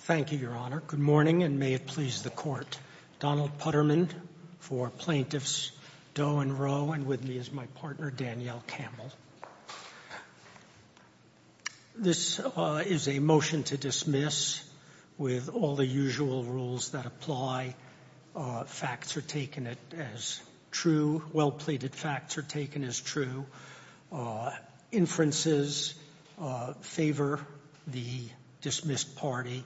Thank you, Your Honor. Good morning and may it please the court. Donald Putterman for plaintiffs Doe and Rowe and with me is my partner Danielle Campbell. This is a motion to dismiss with all the usual rules that apply. Facts are taken as true, well-plated facts are taken as true, inferences favor the dismissed party,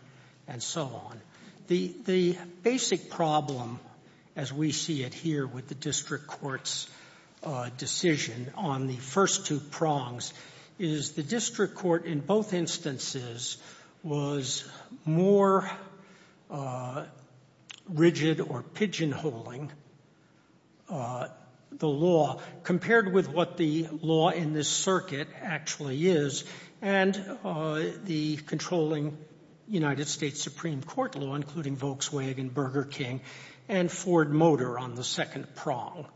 and so on. The basic problem as we see it here with the district court's decision on the first two prongs is the district court in both instances was more rigid or pigeonholing the law compared with what the law in this circuit actually is and the controlling United States Supreme Court law including Volkswagen, Burger King and Ford Motor on the second prong.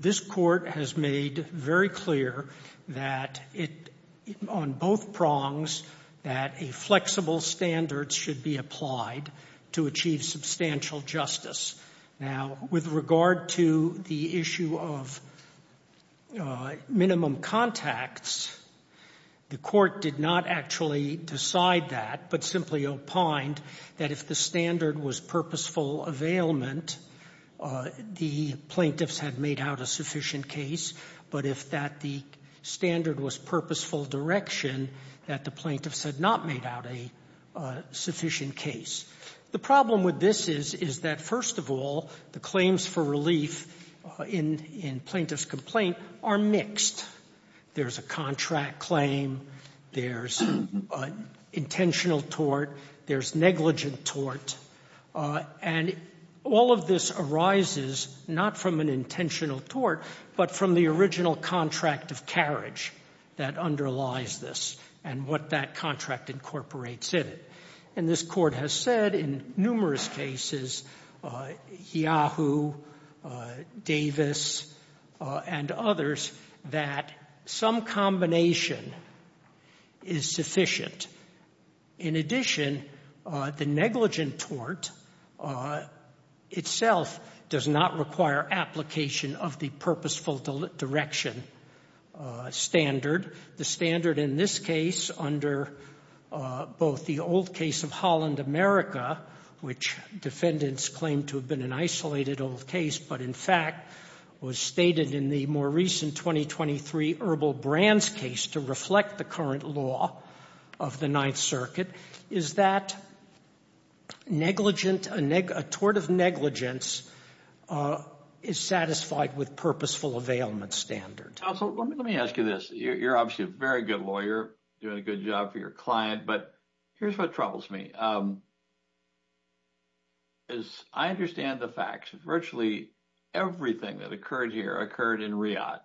This court has made very clear that on both prongs that a flexible standard should be applied to achieve substantial justice. Now with regard to the issue of minimum contacts, the court did not actually decide that but simply opined that if the standard was purposeful availment, the plaintiffs had made out a sufficient case, but if that the standard was purposeful direction that the plaintiffs had not made out a sufficient case. The problem with this is that first of all the claims for relief in plaintiff's complaint are mixed. There's a contract claim, there's intentional tort, there's negligent tort, and all of this arises not from an intentional tort but from the original contract of carriage that underlies this and what that contract incorporates in it. And this court has said in numerous cases, Yahoo, Davis and others that some combination is sufficient. In addition, the negligent tort itself does not require application of the purposeful direction standard. The standard in this case under both the old case of Holland America, which defendants claim to have been an isolated old case but in fact was stated in the more recent 2023 Herbal Brands case to reflect the current law of the Ninth Circuit, is that a tort of negligence is satisfied with purposeful availment standard. Let me ask you this. You're obviously a very good lawyer, doing a good job for your client, but here's what troubles me. As I understand the facts, virtually everything that occurred here occurred in Riyadh.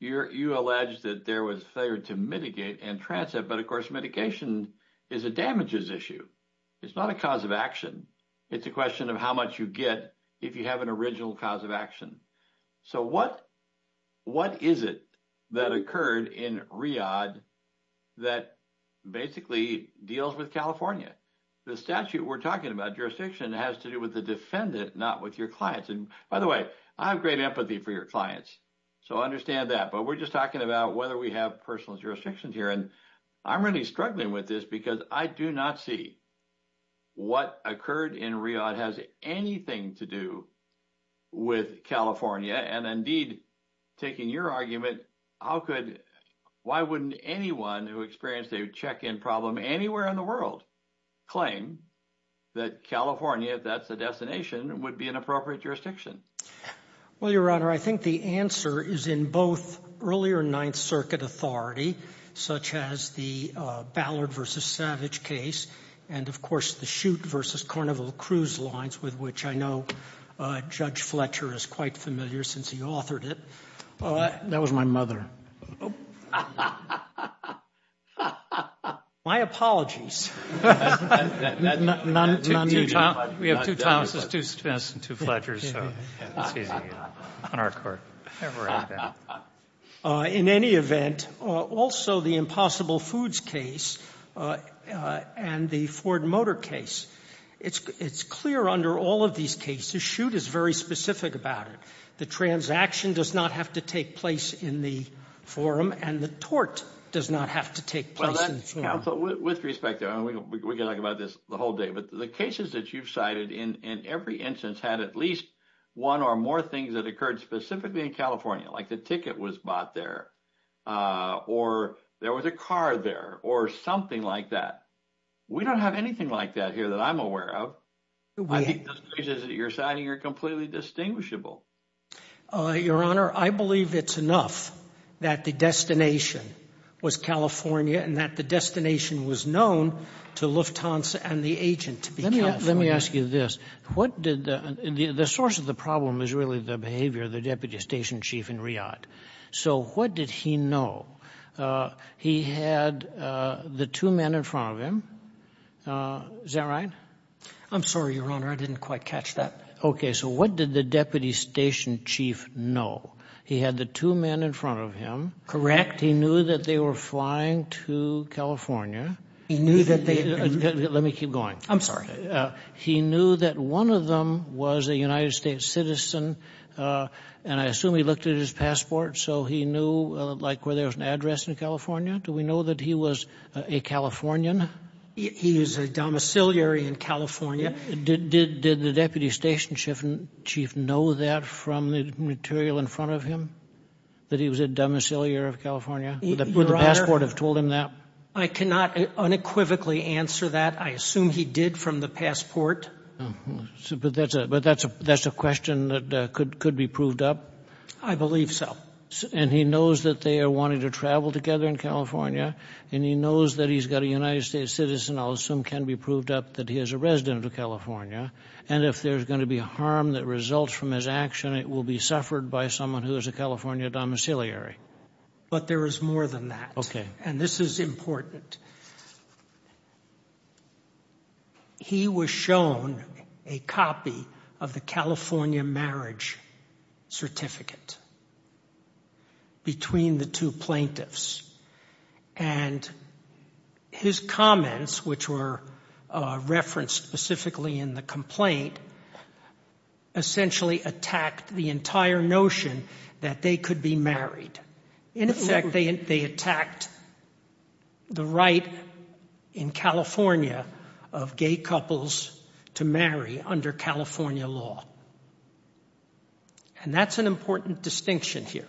You allege that there was failure to mitigate and transit, but of course mitigation is a damages issue. It's not a cause of action. It's a question of how much you get if you have an original cause of action. So what is it that occurred in Riyadh that basically deals with California? The statute we're talking about, jurisdiction, has to do with the defendant, not with your clients. By the way, I have great empathy for your clients, so I understand that. But we're just talking about whether we have personal jurisdictions here, and I'm really struggling with this because I do not see what occurred in Riyadh has anything to do with California. And indeed, taking your argument, why wouldn't anyone who experienced a check-in problem anywhere in the world claim that California, if that's the destination, would be an appropriate jurisdiction? Well, Your Honor, I think the answer is in both earlier Ninth Circuit authority, such as the Ballard v. Savage case, and of course the Shute v. Carnival Cruise lines, with which I know Judge Fletcher is quite familiar since he authored it. That was my mother. My apologies. We have two Thomases, two Smiths, and two Fletchers, so it's easy on our court. In any event, also the Impossible Foods case and the Ford Motor case, it's clear under all of these cases, Shute is very specific about it. The transaction does not have to take place in the forum, and the tort does not have to take place in the forum. Counsel, with respect, we could talk about this the whole day, but the cases that you've cited in every instance had at least one or more things that occurred specifically in California, like the ticket was bought there, or there was a car there, or something like that. We don't have anything like that here that I'm aware of. I think those cases that you're citing are completely distinguishable. Your Honor, I believe it's enough that the destination was California and that the destination was known to Lufthansa and the agent to be California. Let me ask you this. The source of the problem is really the behavior of the deputy station chief in Riyadh, so what did he know? He had the two men in front of him. Is that right? I'm sorry, Your Honor. I didn't quite catch that. Okay, so what did the deputy station chief know? He had the two men in front of him. He knew that they were flying to California. He knew that they — Let me keep going. I'm sorry. He knew that one of them was a United States citizen, and I assume he looked at his passport, so he knew, like, where there was an address in California? Do we know that he was a Californian? He was a domiciliary in California. Did the deputy station chief know that from the material in front of him, that he was a domiciliary of California? Would the passport have told him that? I cannot unequivocally answer that. I assume he did from the passport. But that's a question that could be proved up. I believe so. And he knows that they are wanting to travel together in California, and he knows that he's got a United States citizen. I'll assume can be proved up that he is a resident of California. And if there's going to be harm that results from his action, it will be suffered by someone who is a California domiciliary. But there is more than that. Okay. And this is important. He was shown a copy of the California marriage certificate between the two plaintiffs. And his comments, which were referenced specifically in the complaint, essentially attacked the entire notion that they could be married. In effect, they attacked the right in California of gay couples to marry under California law. And that's an important distinction here.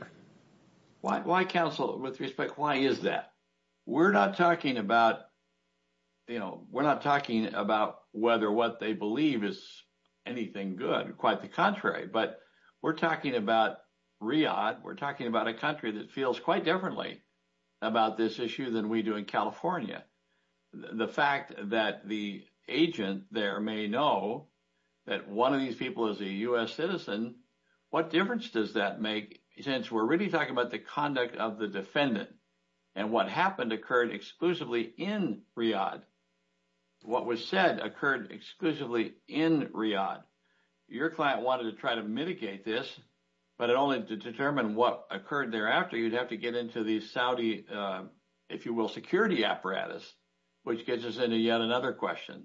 Why, counsel, with respect, why is that? We're not talking about, you know, we're not talking about whether what they believe is anything good. Quite the contrary. But we're talking about Riyadh. We're talking about a country that feels quite differently about this issue than we do in California. The fact that the agent there may know that one of these people is a U.S. citizen, what difference does that make? Since we're really talking about the conduct of the defendant and what happened occurred exclusively in Riyadh. What was said occurred exclusively in Riyadh. Your client wanted to try to mitigate this, but it only determined what occurred thereafter. You'd have to get into the Saudi, if you will, security apparatus, which gets us into yet another question.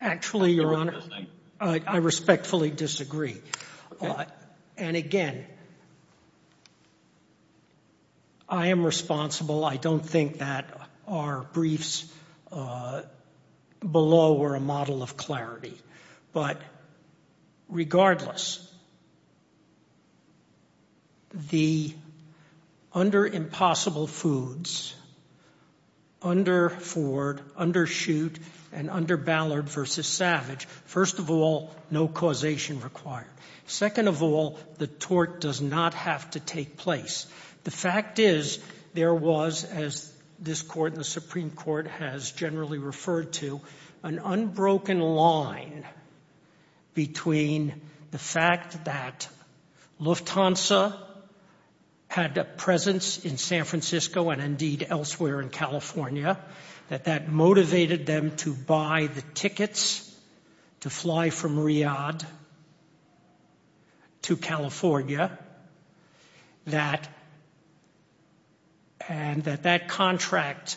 Actually, Your Honor, I respectfully disagree. And again, I am responsible. I don't think that our briefs below were a model of clarity. But regardless, under Impossible Foods, under Ford, under Shoot, and under Ballard v. Savage, first of all, no causation required. Second of all, the tort does not have to take place. The fact is there was, as this Court and the Supreme Court has generally referred to, an unbroken line between the fact that Lufthansa had a presence in San Francisco and indeed elsewhere in California, that that motivated them to buy the tickets to fly from Riyadh to California, and that that contract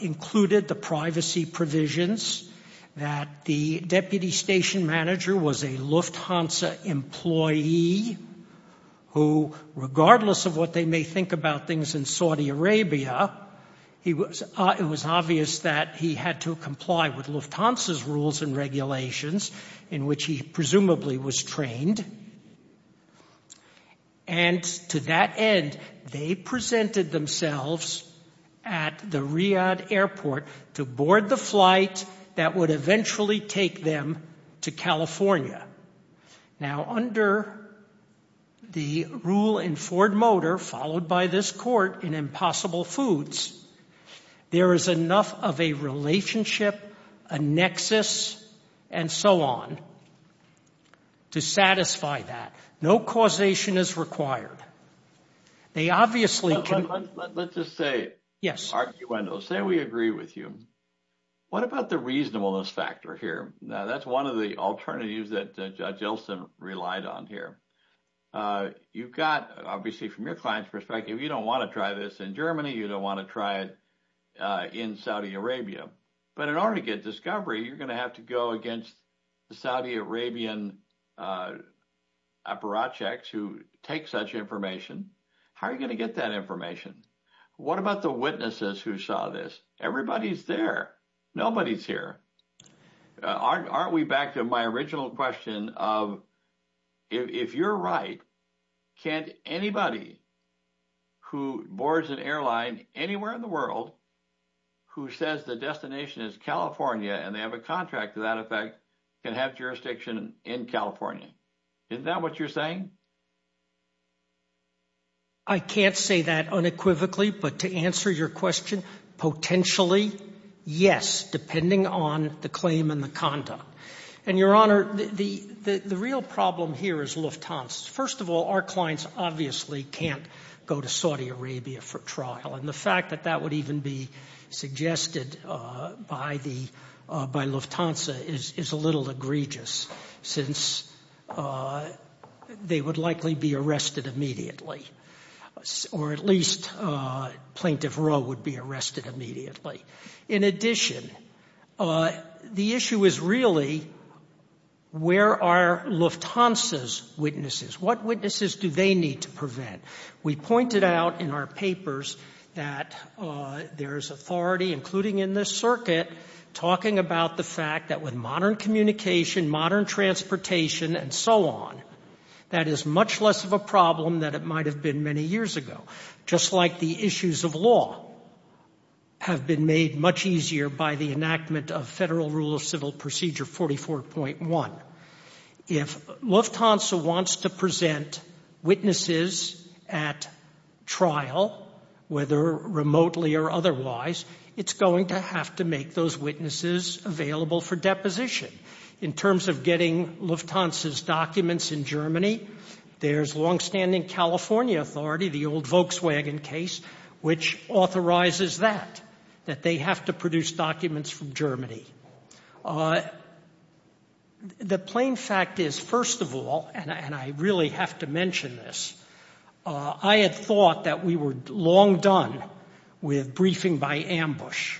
included the privacy provisions that the deputy station manager was a Lufthansa employee who, regardless of what they may think about things in Saudi Arabia, it was obvious that he had to comply with Lufthansa's rules and regulations in which he presumably was trained. And to that end, they presented themselves at the Riyadh airport to board the flight that would eventually take them to California. Now, under the rule in Ford Motor, followed by this Court in Impossible Foods, there is enough of a relationship, a nexus, and so on to satisfy that. No causation is required. They obviously can- Let's just say- Yes. Say we agree with you. What about the reasonableness factor here? Now, that's one of the alternatives that Judge Elson relied on here. You've got, obviously from your client's perspective, you don't want to try this in Germany, you don't want to try it in Saudi Arabia. But in order to get discovery, you're going to have to go against the Saudi Arabian apparatchiks who take such information. How are you going to get that information? What about the witnesses who saw this? Everybody's there. Nobody's here. Aren't we back to my original question of, if you're right, can't anybody who boards an airline anywhere in the world, who says the destination is California and they have a contract to that effect, can have jurisdiction in California? Isn't that what you're saying? I can't say that unequivocally, but to answer your question, potentially, yes, depending on the claim and the conduct. And, Your Honor, the real problem here is Lufthansa. First of all, our clients obviously can't go to Saudi Arabia for trial. And the fact that that would even be suggested by Lufthansa is a little egregious, since they would likely be arrested immediately, or at least Plaintiff Roe would be arrested immediately. In addition, the issue is really, where are Lufthansa's witnesses? What witnesses do they need to prevent? We pointed out in our papers that there is authority, including in this circuit, talking about the fact that with modern communication, modern transportation, and so on, that is much less of a problem than it might have been many years ago. Just like the issues of law have been made much easier by the enactment of Federal Rule of Civil Procedure 44.1. If Lufthansa wants to present witnesses at trial, whether remotely or otherwise, it's going to have to make those witnesses available for deposition. In terms of getting Lufthansa's documents in Germany, there's longstanding California authority, the old Volkswagen case, which authorizes that, that they have to produce documents from Germany. The plain fact is, first of all, and I really have to mention this, I had thought that we were long done with briefing by ambush.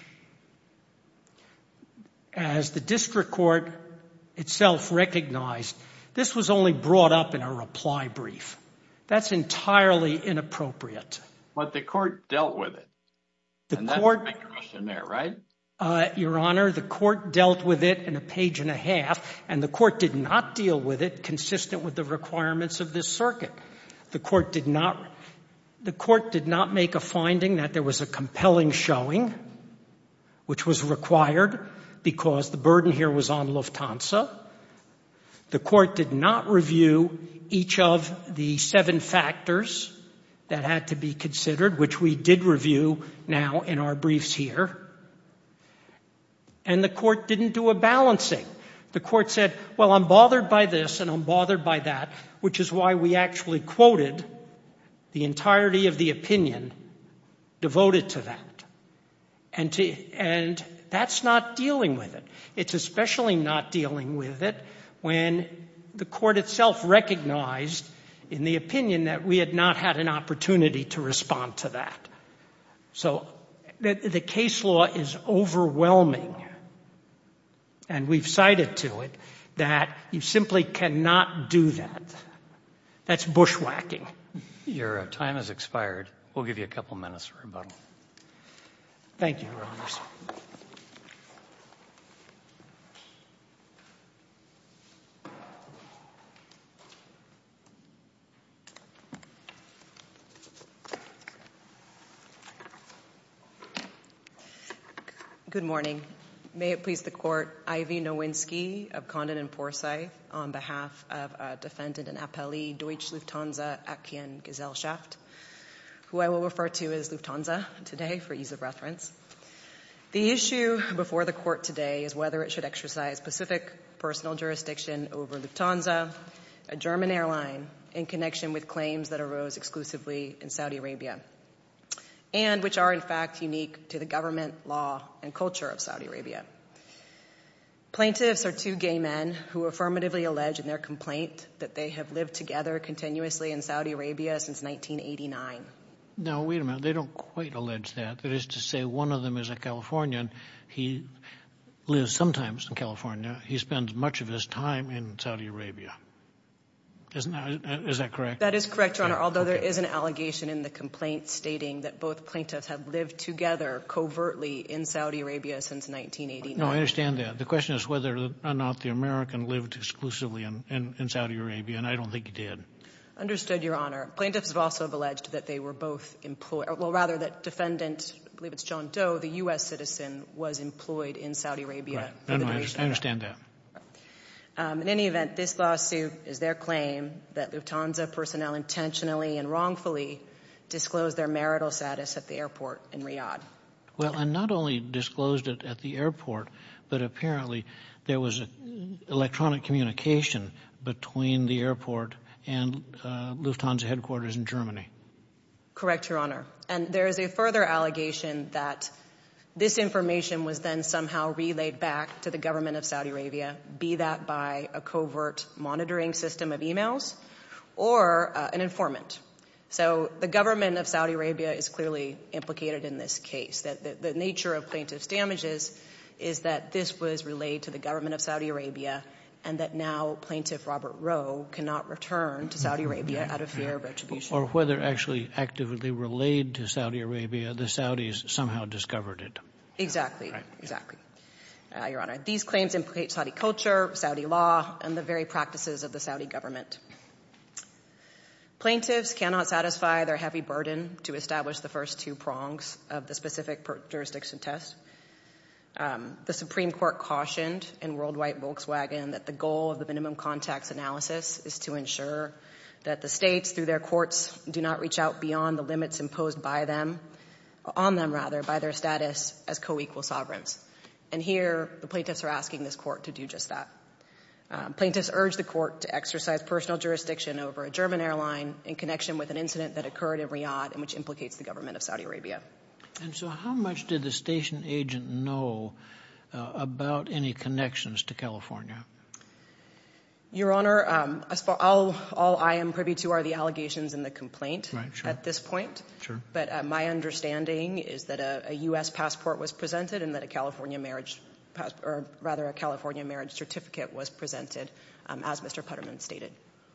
As the district court itself recognized, this was only brought up in a reply brief. That's entirely inappropriate. But the court dealt with it, and that's my question there, right? Your Honor, the court dealt with it in a page and a half, and the court did not deal with it consistent with the requirements of this circuit. The court did not make a finding that there was a compelling showing, which was required because the burden here was on Lufthansa. The court did not review each of the seven factors that had to be considered, which we did review now in our briefs here. And the court didn't do a balancing. The court said, well, I'm bothered by this and I'm bothered by that, which is why we actually quoted the entirety of the opinion devoted to that. And that's not dealing with it. It's especially not dealing with it when the court itself recognized in the opinion that we had not had an opportunity to respond to that. So the case law is overwhelming, and we've cited to it that you simply cannot do that. That's bushwhacking. Your time has expired. We'll give you a couple minutes for rebuttal. Thank you, Your Honors. Good morning. May it please the Court, Ivy Nowinski of Condon and Forsyth on behalf of a defendant and appellee, Deutsch Lufthansa Akian Gesellschaft, who I will refer to as Lufthansa today for ease of reference. The issue before the court today is whether it should exercise specific personal jurisdiction over Lufthansa, a German airline in connection with claims that arose exclusively in Saudi Arabia and which are, in fact, unique to the government, law, and culture of Saudi Arabia. Plaintiffs are two gay men who affirmatively allege in their complaint that they have lived together continuously in Saudi Arabia since 1989. Now, wait a minute. They don't quite allege that. That is to say one of them is a Californian. He lives sometimes in California. He spends much of his time in Saudi Arabia. Is that correct? That is correct, Your Honor, although there is an allegation in the complaint stating that both plaintiffs have lived together covertly in Saudi Arabia since 1989. No, I understand that. The question is whether or not the American lived exclusively in Saudi Arabia, and I don't think he did. Understood, Your Honor. Plaintiffs have also alleged that they were both employed. Well, rather, that defendant, I believe it's John Doe, the U.S. citizen, was employed in Saudi Arabia. I understand that. In any event, this lawsuit is their claim that Lufthansa personnel intentionally and wrongfully disclosed their marital status at the airport in Riyadh. Well, and not only disclosed it at the airport, but apparently there was electronic communication between the airport and Lufthansa headquarters in Germany. Correct, Your Honor. And there is a further allegation that this information was then somehow relayed back to the government of Saudi Arabia, be that by a covert monitoring system of emails or an informant. So the government of Saudi Arabia is clearly implicated in this case, that the nature of plaintiff's damages is that this was relayed to the government of Saudi Arabia, and that now Plaintiff Robert Rowe cannot return to Saudi Arabia out of fear of retribution. Or whether actually actively relayed to Saudi Arabia, the Saudis somehow discovered it. Exactly, Your Honor. These claims implicate Saudi culture, Saudi law, and the very practices of the Saudi government. Plaintiffs cannot satisfy their heavy burden to establish the first two prongs of the specific jurisdiction test. The Supreme Court cautioned in Worldwide Volkswagen that the goal of the minimum contacts analysis is to ensure that the states through their courts do not reach out beyond the limits imposed by them, on them rather, by their status as co-equal sovereigns. And here the plaintiffs are asking this court to do just that. Plaintiffs urge the court to exercise personal jurisdiction over a German airline in connection with an incident that occurred in Riyadh, and which implicates the government of Saudi Arabia. And so how much did the station agent know about any connections to California? Your Honor, all I am privy to are the allegations and the complaint at this point. But my understanding is that a U.S. passport was presented, and that a California marriage passport, or rather, a California marriage certificate was presented, as Mr. Putterman stated.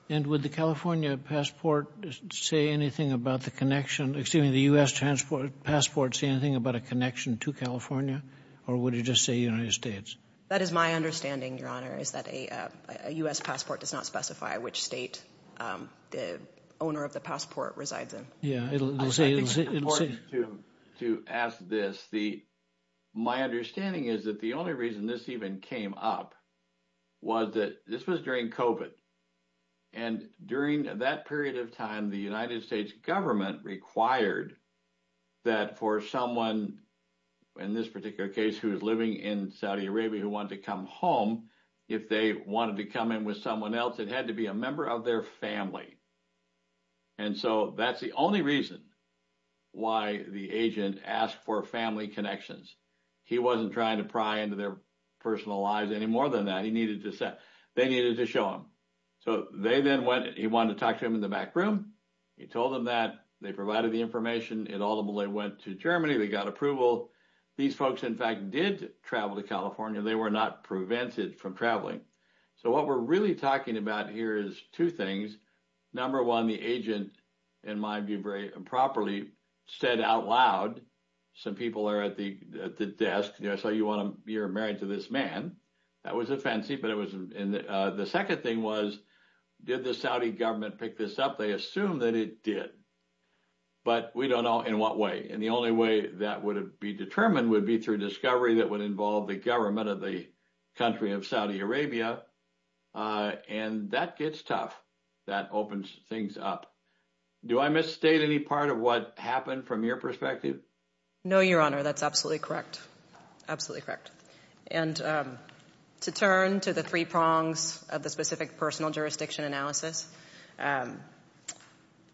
And would the California passport say anything about the connection, excuse me, the U.S. passport say anything about a connection to California? Or would it just say United States? That is my understanding, Your Honor, is that a U.S. passport does not specify which state the owner of the passport resides in. I think it's important to ask this. My understanding is that the only reason this even came up was that this was during COVID. And during that period of time, the United States government required that for someone in this particular case who is living in Saudi Arabia who wanted to come home, if they wanted to come in with someone else, it had to be a member of their family. And so that's the only reason why the agent asked for family connections. He wasn't trying to pry into their personal lives any more than that. They needed to show them. So they then went, he wanted to talk to them in the back room. He told them that. They provided the information. It ultimately went to Germany. They got approval. These folks, in fact, did travel to California. They were not prevented from traveling. So what we're really talking about here is two things. Number one, the agent, in my view, very improperly said out loud, some people are at the desk, so you're married to this man. That wasn't fancy, but it wasn't. The second thing was, did the Saudi government pick this up? They assumed that it did. But we don't know in what way. And the only way that would be determined would be through discovery that would involve the government of the country of Saudi Arabia. And that gets tough. That opens things up. Do I misstate any part of what happened from your perspective? No, Your Honor, that's absolutely correct. Absolutely correct. And to turn to the three prongs of the specific personal jurisdiction analysis,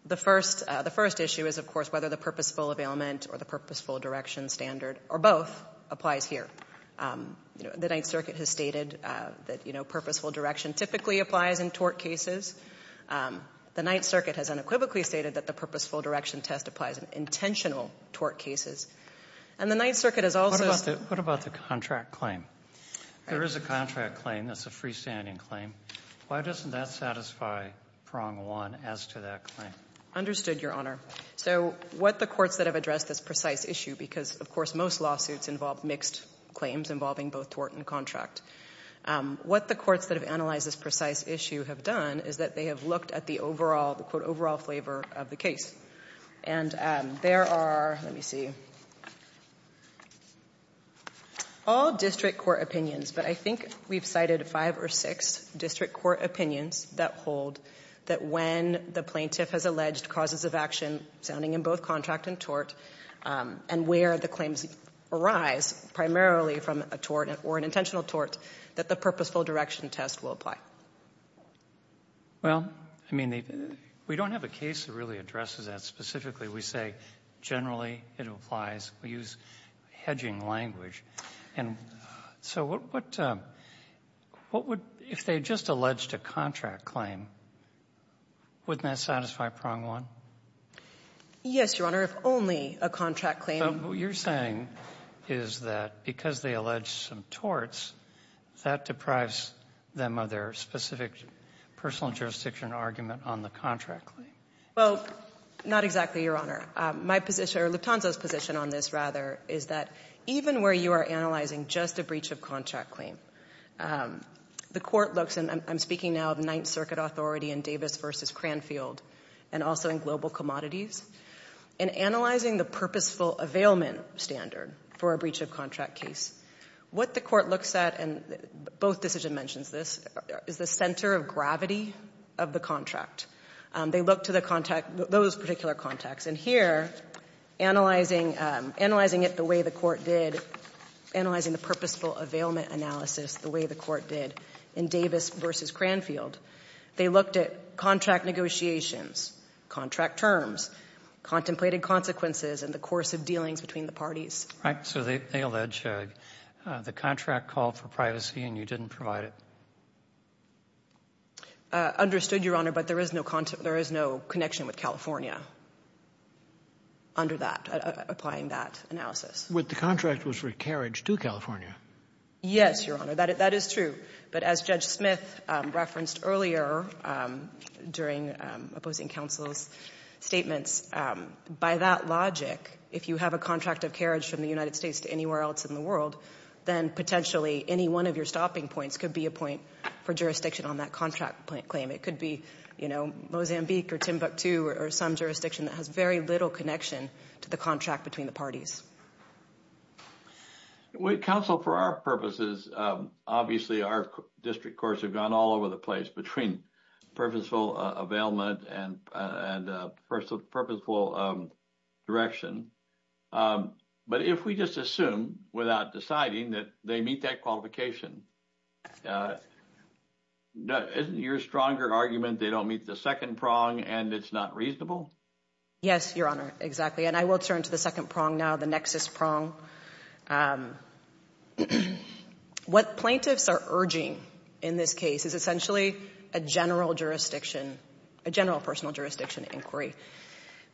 the first issue is, of course, whether the purposeful availment or the purposeful direction standard, or both, applies here. The Ninth Circuit has stated that purposeful direction typically applies in tort cases. The Ninth Circuit has unequivocally stated that the purposeful direction test applies in intentional tort cases. And the Ninth Circuit has also said- What about the contract claim? There is a contract claim. That's a freestanding claim. Why doesn't that satisfy prong one as to that claim? Understood, Your Honor. So what the courts that have addressed this precise issue, because, of course, most lawsuits involve mixed claims involving both tort and contract, what the courts that have analyzed this precise issue have done is that they have looked at the, quote, overall flavor of the case. And there are, let me see, all district court opinions, but I think we've cited five or six district court opinions that hold that when the plaintiff has alleged causes of action sounding in both contract and tort and where the claims arise primarily from a tort or an intentional tort, that the purposeful direction test will apply. Well, I mean, we don't have a case that really addresses that specifically. We say generally it applies. We use hedging language. And so what would, if they just alleged a contract claim, wouldn't that satisfy prong one? Yes, Your Honor, if only a contract claim. So what you're saying is that because they allege some torts, that deprives them of their specific personal jurisdiction argument on the contract claim? Well, not exactly, Your Honor. My position, or Luponzo's position on this, rather, is that even where you are analyzing just a breach of contract claim, the court looks, and I'm speaking now of Ninth Circuit authority in Davis v. Cranfield and also in Global Commodities, in analyzing the purposeful availment standard for a breach of contract case, what the court looks at, and both decision mentions this, is the center of gravity of the contract. They look to the contact, those particular contacts. And here, analyzing it the way the court did, analyzing the purposeful availment analysis the way the court did in Davis v. Cranfield, they looked at contract negotiations, contract terms, contemplated consequences, and the course of dealings between the parties. So they allege the contract called for privacy and you didn't provide it? Understood, Your Honor, but there is no connection with California under that, applying that analysis. But the contract was for carriage to California. Yes, Your Honor, that is true. But as Judge Smith referenced earlier during opposing counsel's statements, by that logic, if you have a contract of carriage from the United States to anywhere else in the world, then potentially any one of your stopping points could be a point for jurisdiction on that contract claim. It could be, you know, Mozambique or Timbuktu or some jurisdiction that has very little connection to the contract between the parties. Counsel, for our purposes, obviously our district courts have gone all over the place between purposeful availment and purposeful direction. But if we just assume without deciding that they meet that qualification, isn't your stronger argument they don't meet the second prong and it's not reasonable? Yes, Your Honor, exactly. And I will turn to the second prong now, the nexus prong. What plaintiffs are urging in this case is essentially a general jurisdiction, a general personal jurisdiction inquiry.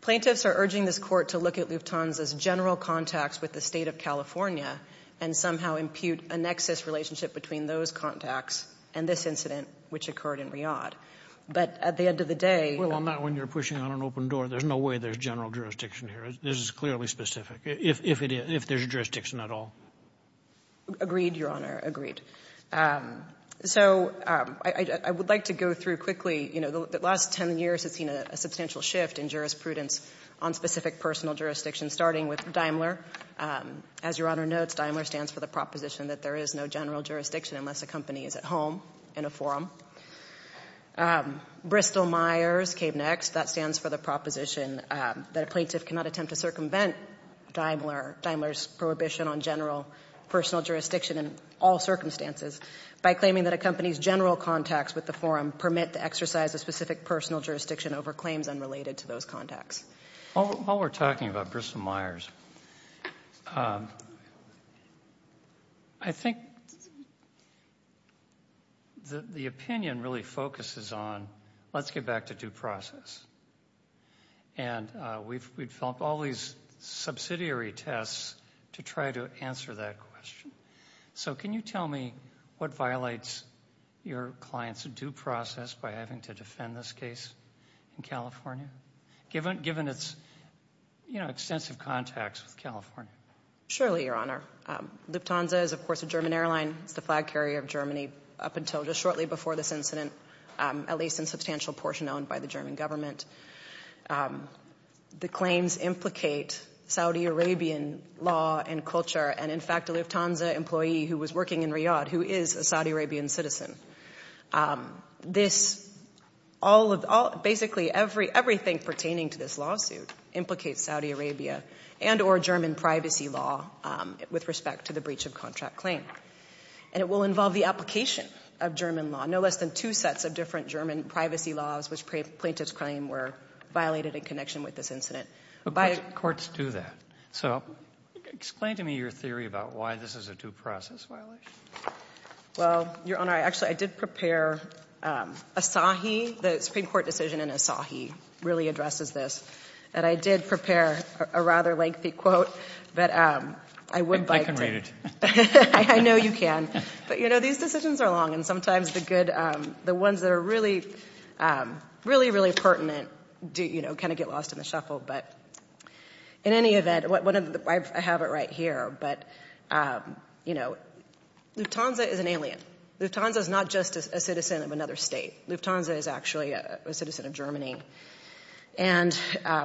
Plaintiffs are urging this Court to look at Lufthansa's general contacts with the State of California and somehow impute a nexus relationship between those contacts and this incident which occurred in Riyadh. But at the end of the day — Well, not when you're pushing on an open door. There's no way there's general jurisdiction here. This is clearly specific. If it is, if there's jurisdiction at all. Agreed, Your Honor, agreed. So I would like to go through quickly, you know, the last ten years have seen a substantial shift in jurisprudence on specific personal jurisdictions, starting with Daimler. As Your Honor notes, Daimler stands for the proposition that there is no general jurisdiction unless a company is at home in a forum. Bristol-Myers came next. That stands for the proposition that a plaintiff cannot attempt to circumvent Daimler's prohibition on general personal jurisdiction in all circumstances by claiming that a company's general contacts with the forum permit the exercise of specific personal jurisdiction over claims unrelated to those contacts. While we're talking about Bristol-Myers, I think the opinion really focuses on let's get back to due process. And we've developed all these subsidiary tests to try to answer that question. So can you tell me what violates your client's due process by having to defend this case in California, given its, you know, extensive contacts with California? Surely, Your Honor. Lufthansa is, of course, a German airline. It's the flag carrier of Germany up until just shortly before this incident, at least in substantial portion owned by the German government. The claims implicate Saudi Arabian law and culture, and in fact, a Lufthansa employee who was working in Riyadh, who is a Saudi Arabian citizen. This, all of, basically everything pertaining to this lawsuit, implicates Saudi Arabia and or German privacy law with respect to the breach of contract claim. And it will involve the application of German law, no less than two sets of different German privacy laws, which plaintiff's claim were violated in connection with this incident. Courts do that. So explain to me your theory about why this is a due process violation. Well, Your Honor, I actually, I did prepare Asahi, the Supreme Court decision in Asahi, really addresses this. And I did prepare a rather lengthy quote, but I would like to... I can read it. I know you can. But, you know, these decisions are long and sometimes the good, the ones that are really, really, really pertinent do, you know, kind of get lost in the shuffle. But in any event, I have it right here. But, you know, Lufthansa is an alien. Lufthansa is not just a citizen of another state. Lufthansa is actually a citizen of Germany. And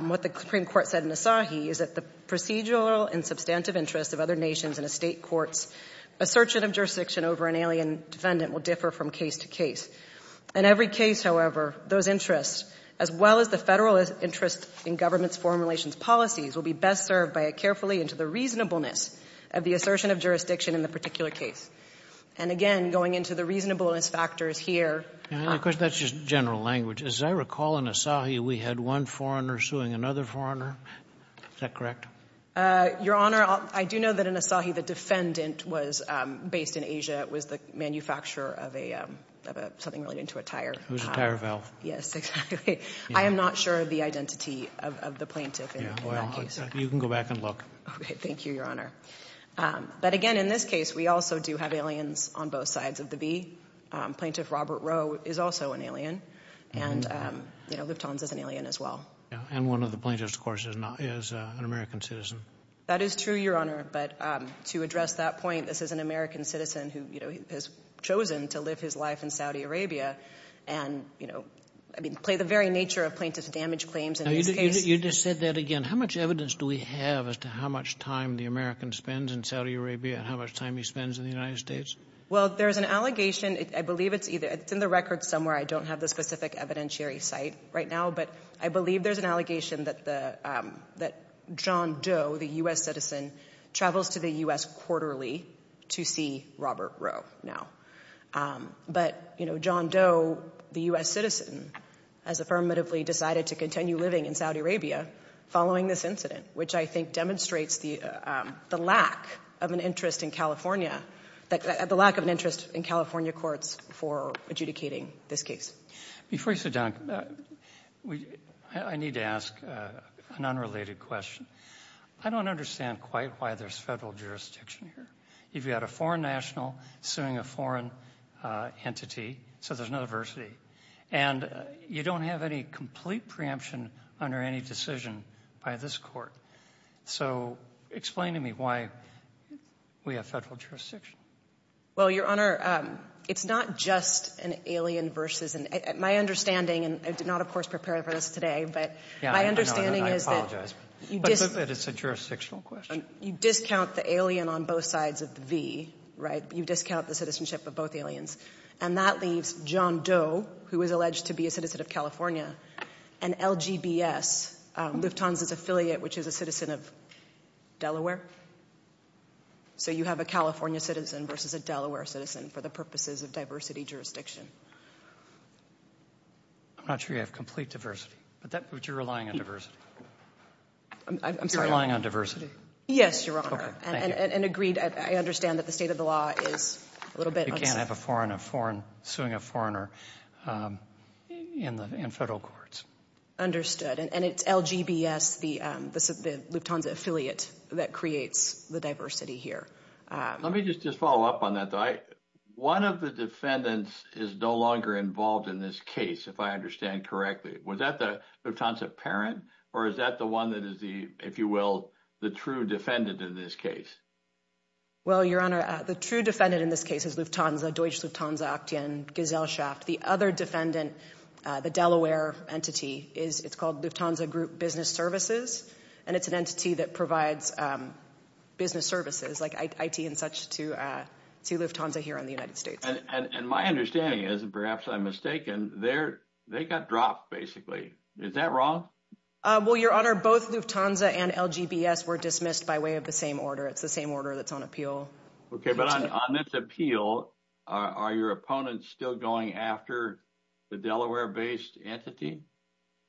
what the Supreme Court said in Asahi is that the procedural and substantive interests of other nations in a state court's assertion of jurisdiction over an alien defendant will differ from case to case. In every case, however, those interests, as well as the federal interest in government's foreign relations policies, will be best served by a carefully into the reasonableness of the assertion of jurisdiction in the particular case. And, again, going into the reasonableness factors here... And, of course, that's just general language. As I recall, in Asahi, we had one foreigner suing another foreigner. Is that correct? Your Honor, I do know that in Asahi, the defendant was based in Asia, was the manufacturer of something related to a tire. It was a tire valve. Yes, exactly. I am not sure of the identity of the plaintiff in that case. You can go back and look. Thank you, Your Honor. But, again, in this case, we also do have aliens on both sides of the bee. Plaintiff Robert Rowe is also an alien. And, you know, Lufthansa is an alien, as well. And one of the plaintiffs, of course, is an American citizen. That is true, Your Honor. But to address that point, this is an American citizen who has chosen to live his life in Saudi Arabia and, you know, I mean, play the very nature of plaintiff's damage claims in this case. You just said that again. How much evidence do we have as to how much time the American spends in Saudi Arabia and how much time he spends in the United States? Well, there's an allegation. I believe it's either... It's in the records somewhere. I don't have the specific evidentiary site right now. But I believe there's an allegation that John Doe, the U.S. citizen, travels to the U.S. quarterly to see Robert Rowe now. But, you know, John Doe, the U.S. citizen, has affirmatively decided to continue living in Saudi Arabia following this incident, which I think demonstrates the lack of an interest in California, the lack of an interest in California courts for adjudicating this case. Before you sit down, I need to ask an unrelated question. I don't understand quite why there's federal jurisdiction here. You've got a foreign national suing a foreign entity, so there's no diversity. And you don't have any complete preemption under any decision by this court. So explain to me why we have federal jurisdiction. Well, Your Honor, it's not just an alien versus... My understanding, and I did not, of course, prepare for this today, but my understanding is that... Yeah, I know. I apologize. But it's a jurisdictional question. You discount the alien on both sides of the V, right? You discount the citizenship of both aliens. And that leaves John Doe, who is alleged to be a citizen of California, and LGBS, Lufthansa's affiliate, which is a citizen of Delaware. So you have a California citizen versus a Delaware citizen for the purposes of diversity jurisdiction. I'm not sure you have complete diversity, but you're relying on diversity. I'm sorry? You're relying on diversity. Yes, Your Honor. Okay, thank you. And agreed, I understand that the state of the law is a little bit... You can't have a foreign suing a foreigner in federal courts. Understood. And it's LGBS, the Lufthansa affiliate that creates the diversity here. Let me just follow up on that, though. One of the defendants is no longer involved in this case, if I understand correctly. Was that the Lufthansa parent, or is that the one that is the, if you will, the true defendant in this case? Well, Your Honor, the true defendant in this case is Lufthansa, Deutsche Lufthansa Aktien, Gesellschaft. The other defendant, the Delaware entity, it's called Lufthansa Group Business Services, and it's an entity that provides business services like IT and such to Lufthansa here in the United States. And my understanding is, and perhaps I'm mistaken, they got dropped, basically. Is that wrong? Well, Your Honor, both Lufthansa and LGBS were dismissed by way of the same order. It's the same order that's on appeal. Okay, but on this appeal, are your opponents still going after the Delaware-based entity,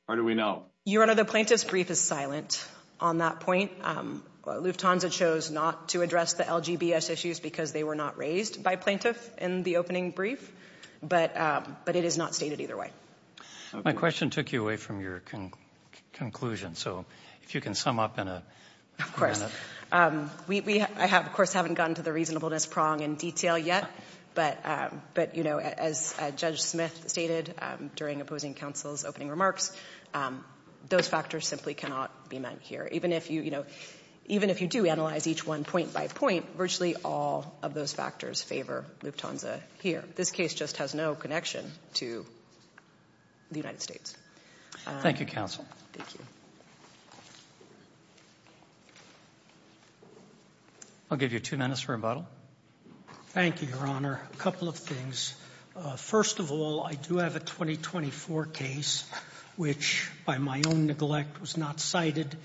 or do we know? Your Honor, the plaintiff's brief is silent on that point. Lufthansa chose not to address the LGBS issues because they were not raised by plaintiff in the opening brief, but it is not stated either way. My question took you away from your conclusion, so if you can sum up in a minute. I, of course, haven't gotten to the reasonableness prong in detail yet, but as Judge Smith stated during opposing counsel's opening remarks, those factors simply cannot be met here. Even if you do analyze each one point by point, virtually all of those factors favor Lufthansa here. This case just has no connection to the United States. Thank you, counsel. Thank you. I'll give you two minutes for rebuttal. Thank you, Your Honor. A couple of things. First of all, I do have a 2024 case which, by my own neglect, was not cited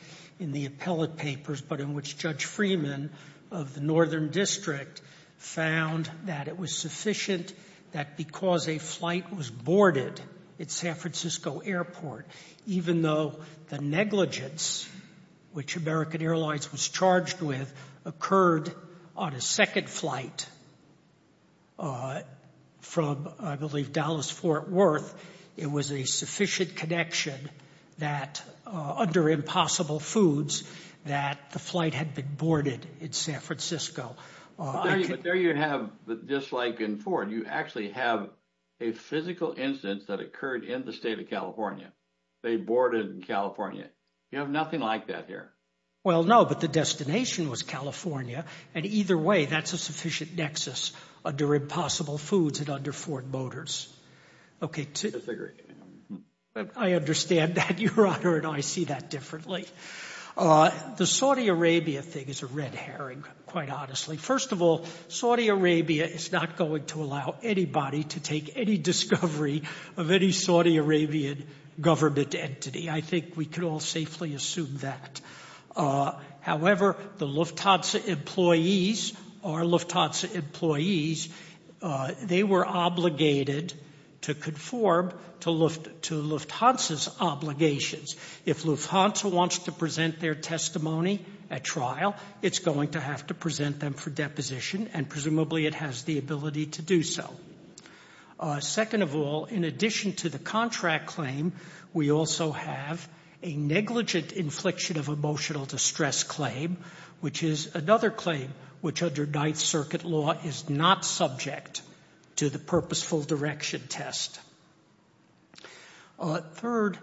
in the appellate papers, but in which Judge Freeman of the Northern District found that it was sufficient that because a flight was boarded at San Francisco Airport, even though the negligence which American Airlines was charged with occurred on a second flight from, I believe, Dallas-Fort Worth, it was a sufficient connection that under Impossible Foods that the flight had been boarded in San Francisco. But there you have, just like in Ford, you actually have a physical incident that occurred in the state of California. They boarded in California. You have nothing like that here. Well, no, but the destination was California, and either way, that's a sufficient nexus under Impossible Foods and under Ford Motors. I disagree. I understand that, Your Honor, and I see that differently. The Saudi Arabia thing is a red herring, quite honestly. First of all, Saudi Arabia is not going to allow anybody to take any discovery of any Saudi Arabian government entity. I think we can all safely assume that. However, the Lufthansa employees, our Lufthansa employees, they were obligated to conform to Lufthansa's obligations. If Lufthansa wants to present their testimony at trial, it's going to have to present them for deposition, and presumably it has the ability to do so. Second of all, in addition to the contract claim, we also have a negligent infliction of emotional distress claim, which is another claim which under Ninth Circuit law is not subject to the purposeful direction test. Third,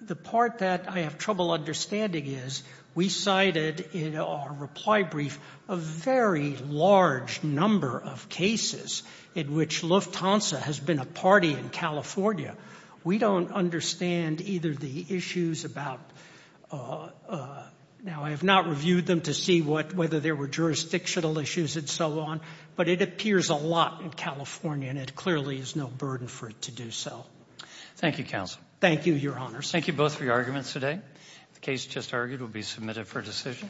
the part that I have trouble understanding is we cited in our reply brief a very large number of cases in which Lufthansa has been a party in California. We don't understand either the issues about—now, I have not reviewed them to see whether there were jurisdictional issues and so on, but it appears a lot in California, and it clearly is no burden for it to do so. Thank you, Counsel. Thank you, Your Honors. Thank you both for your arguments today. The case just argued will be submitted for decision.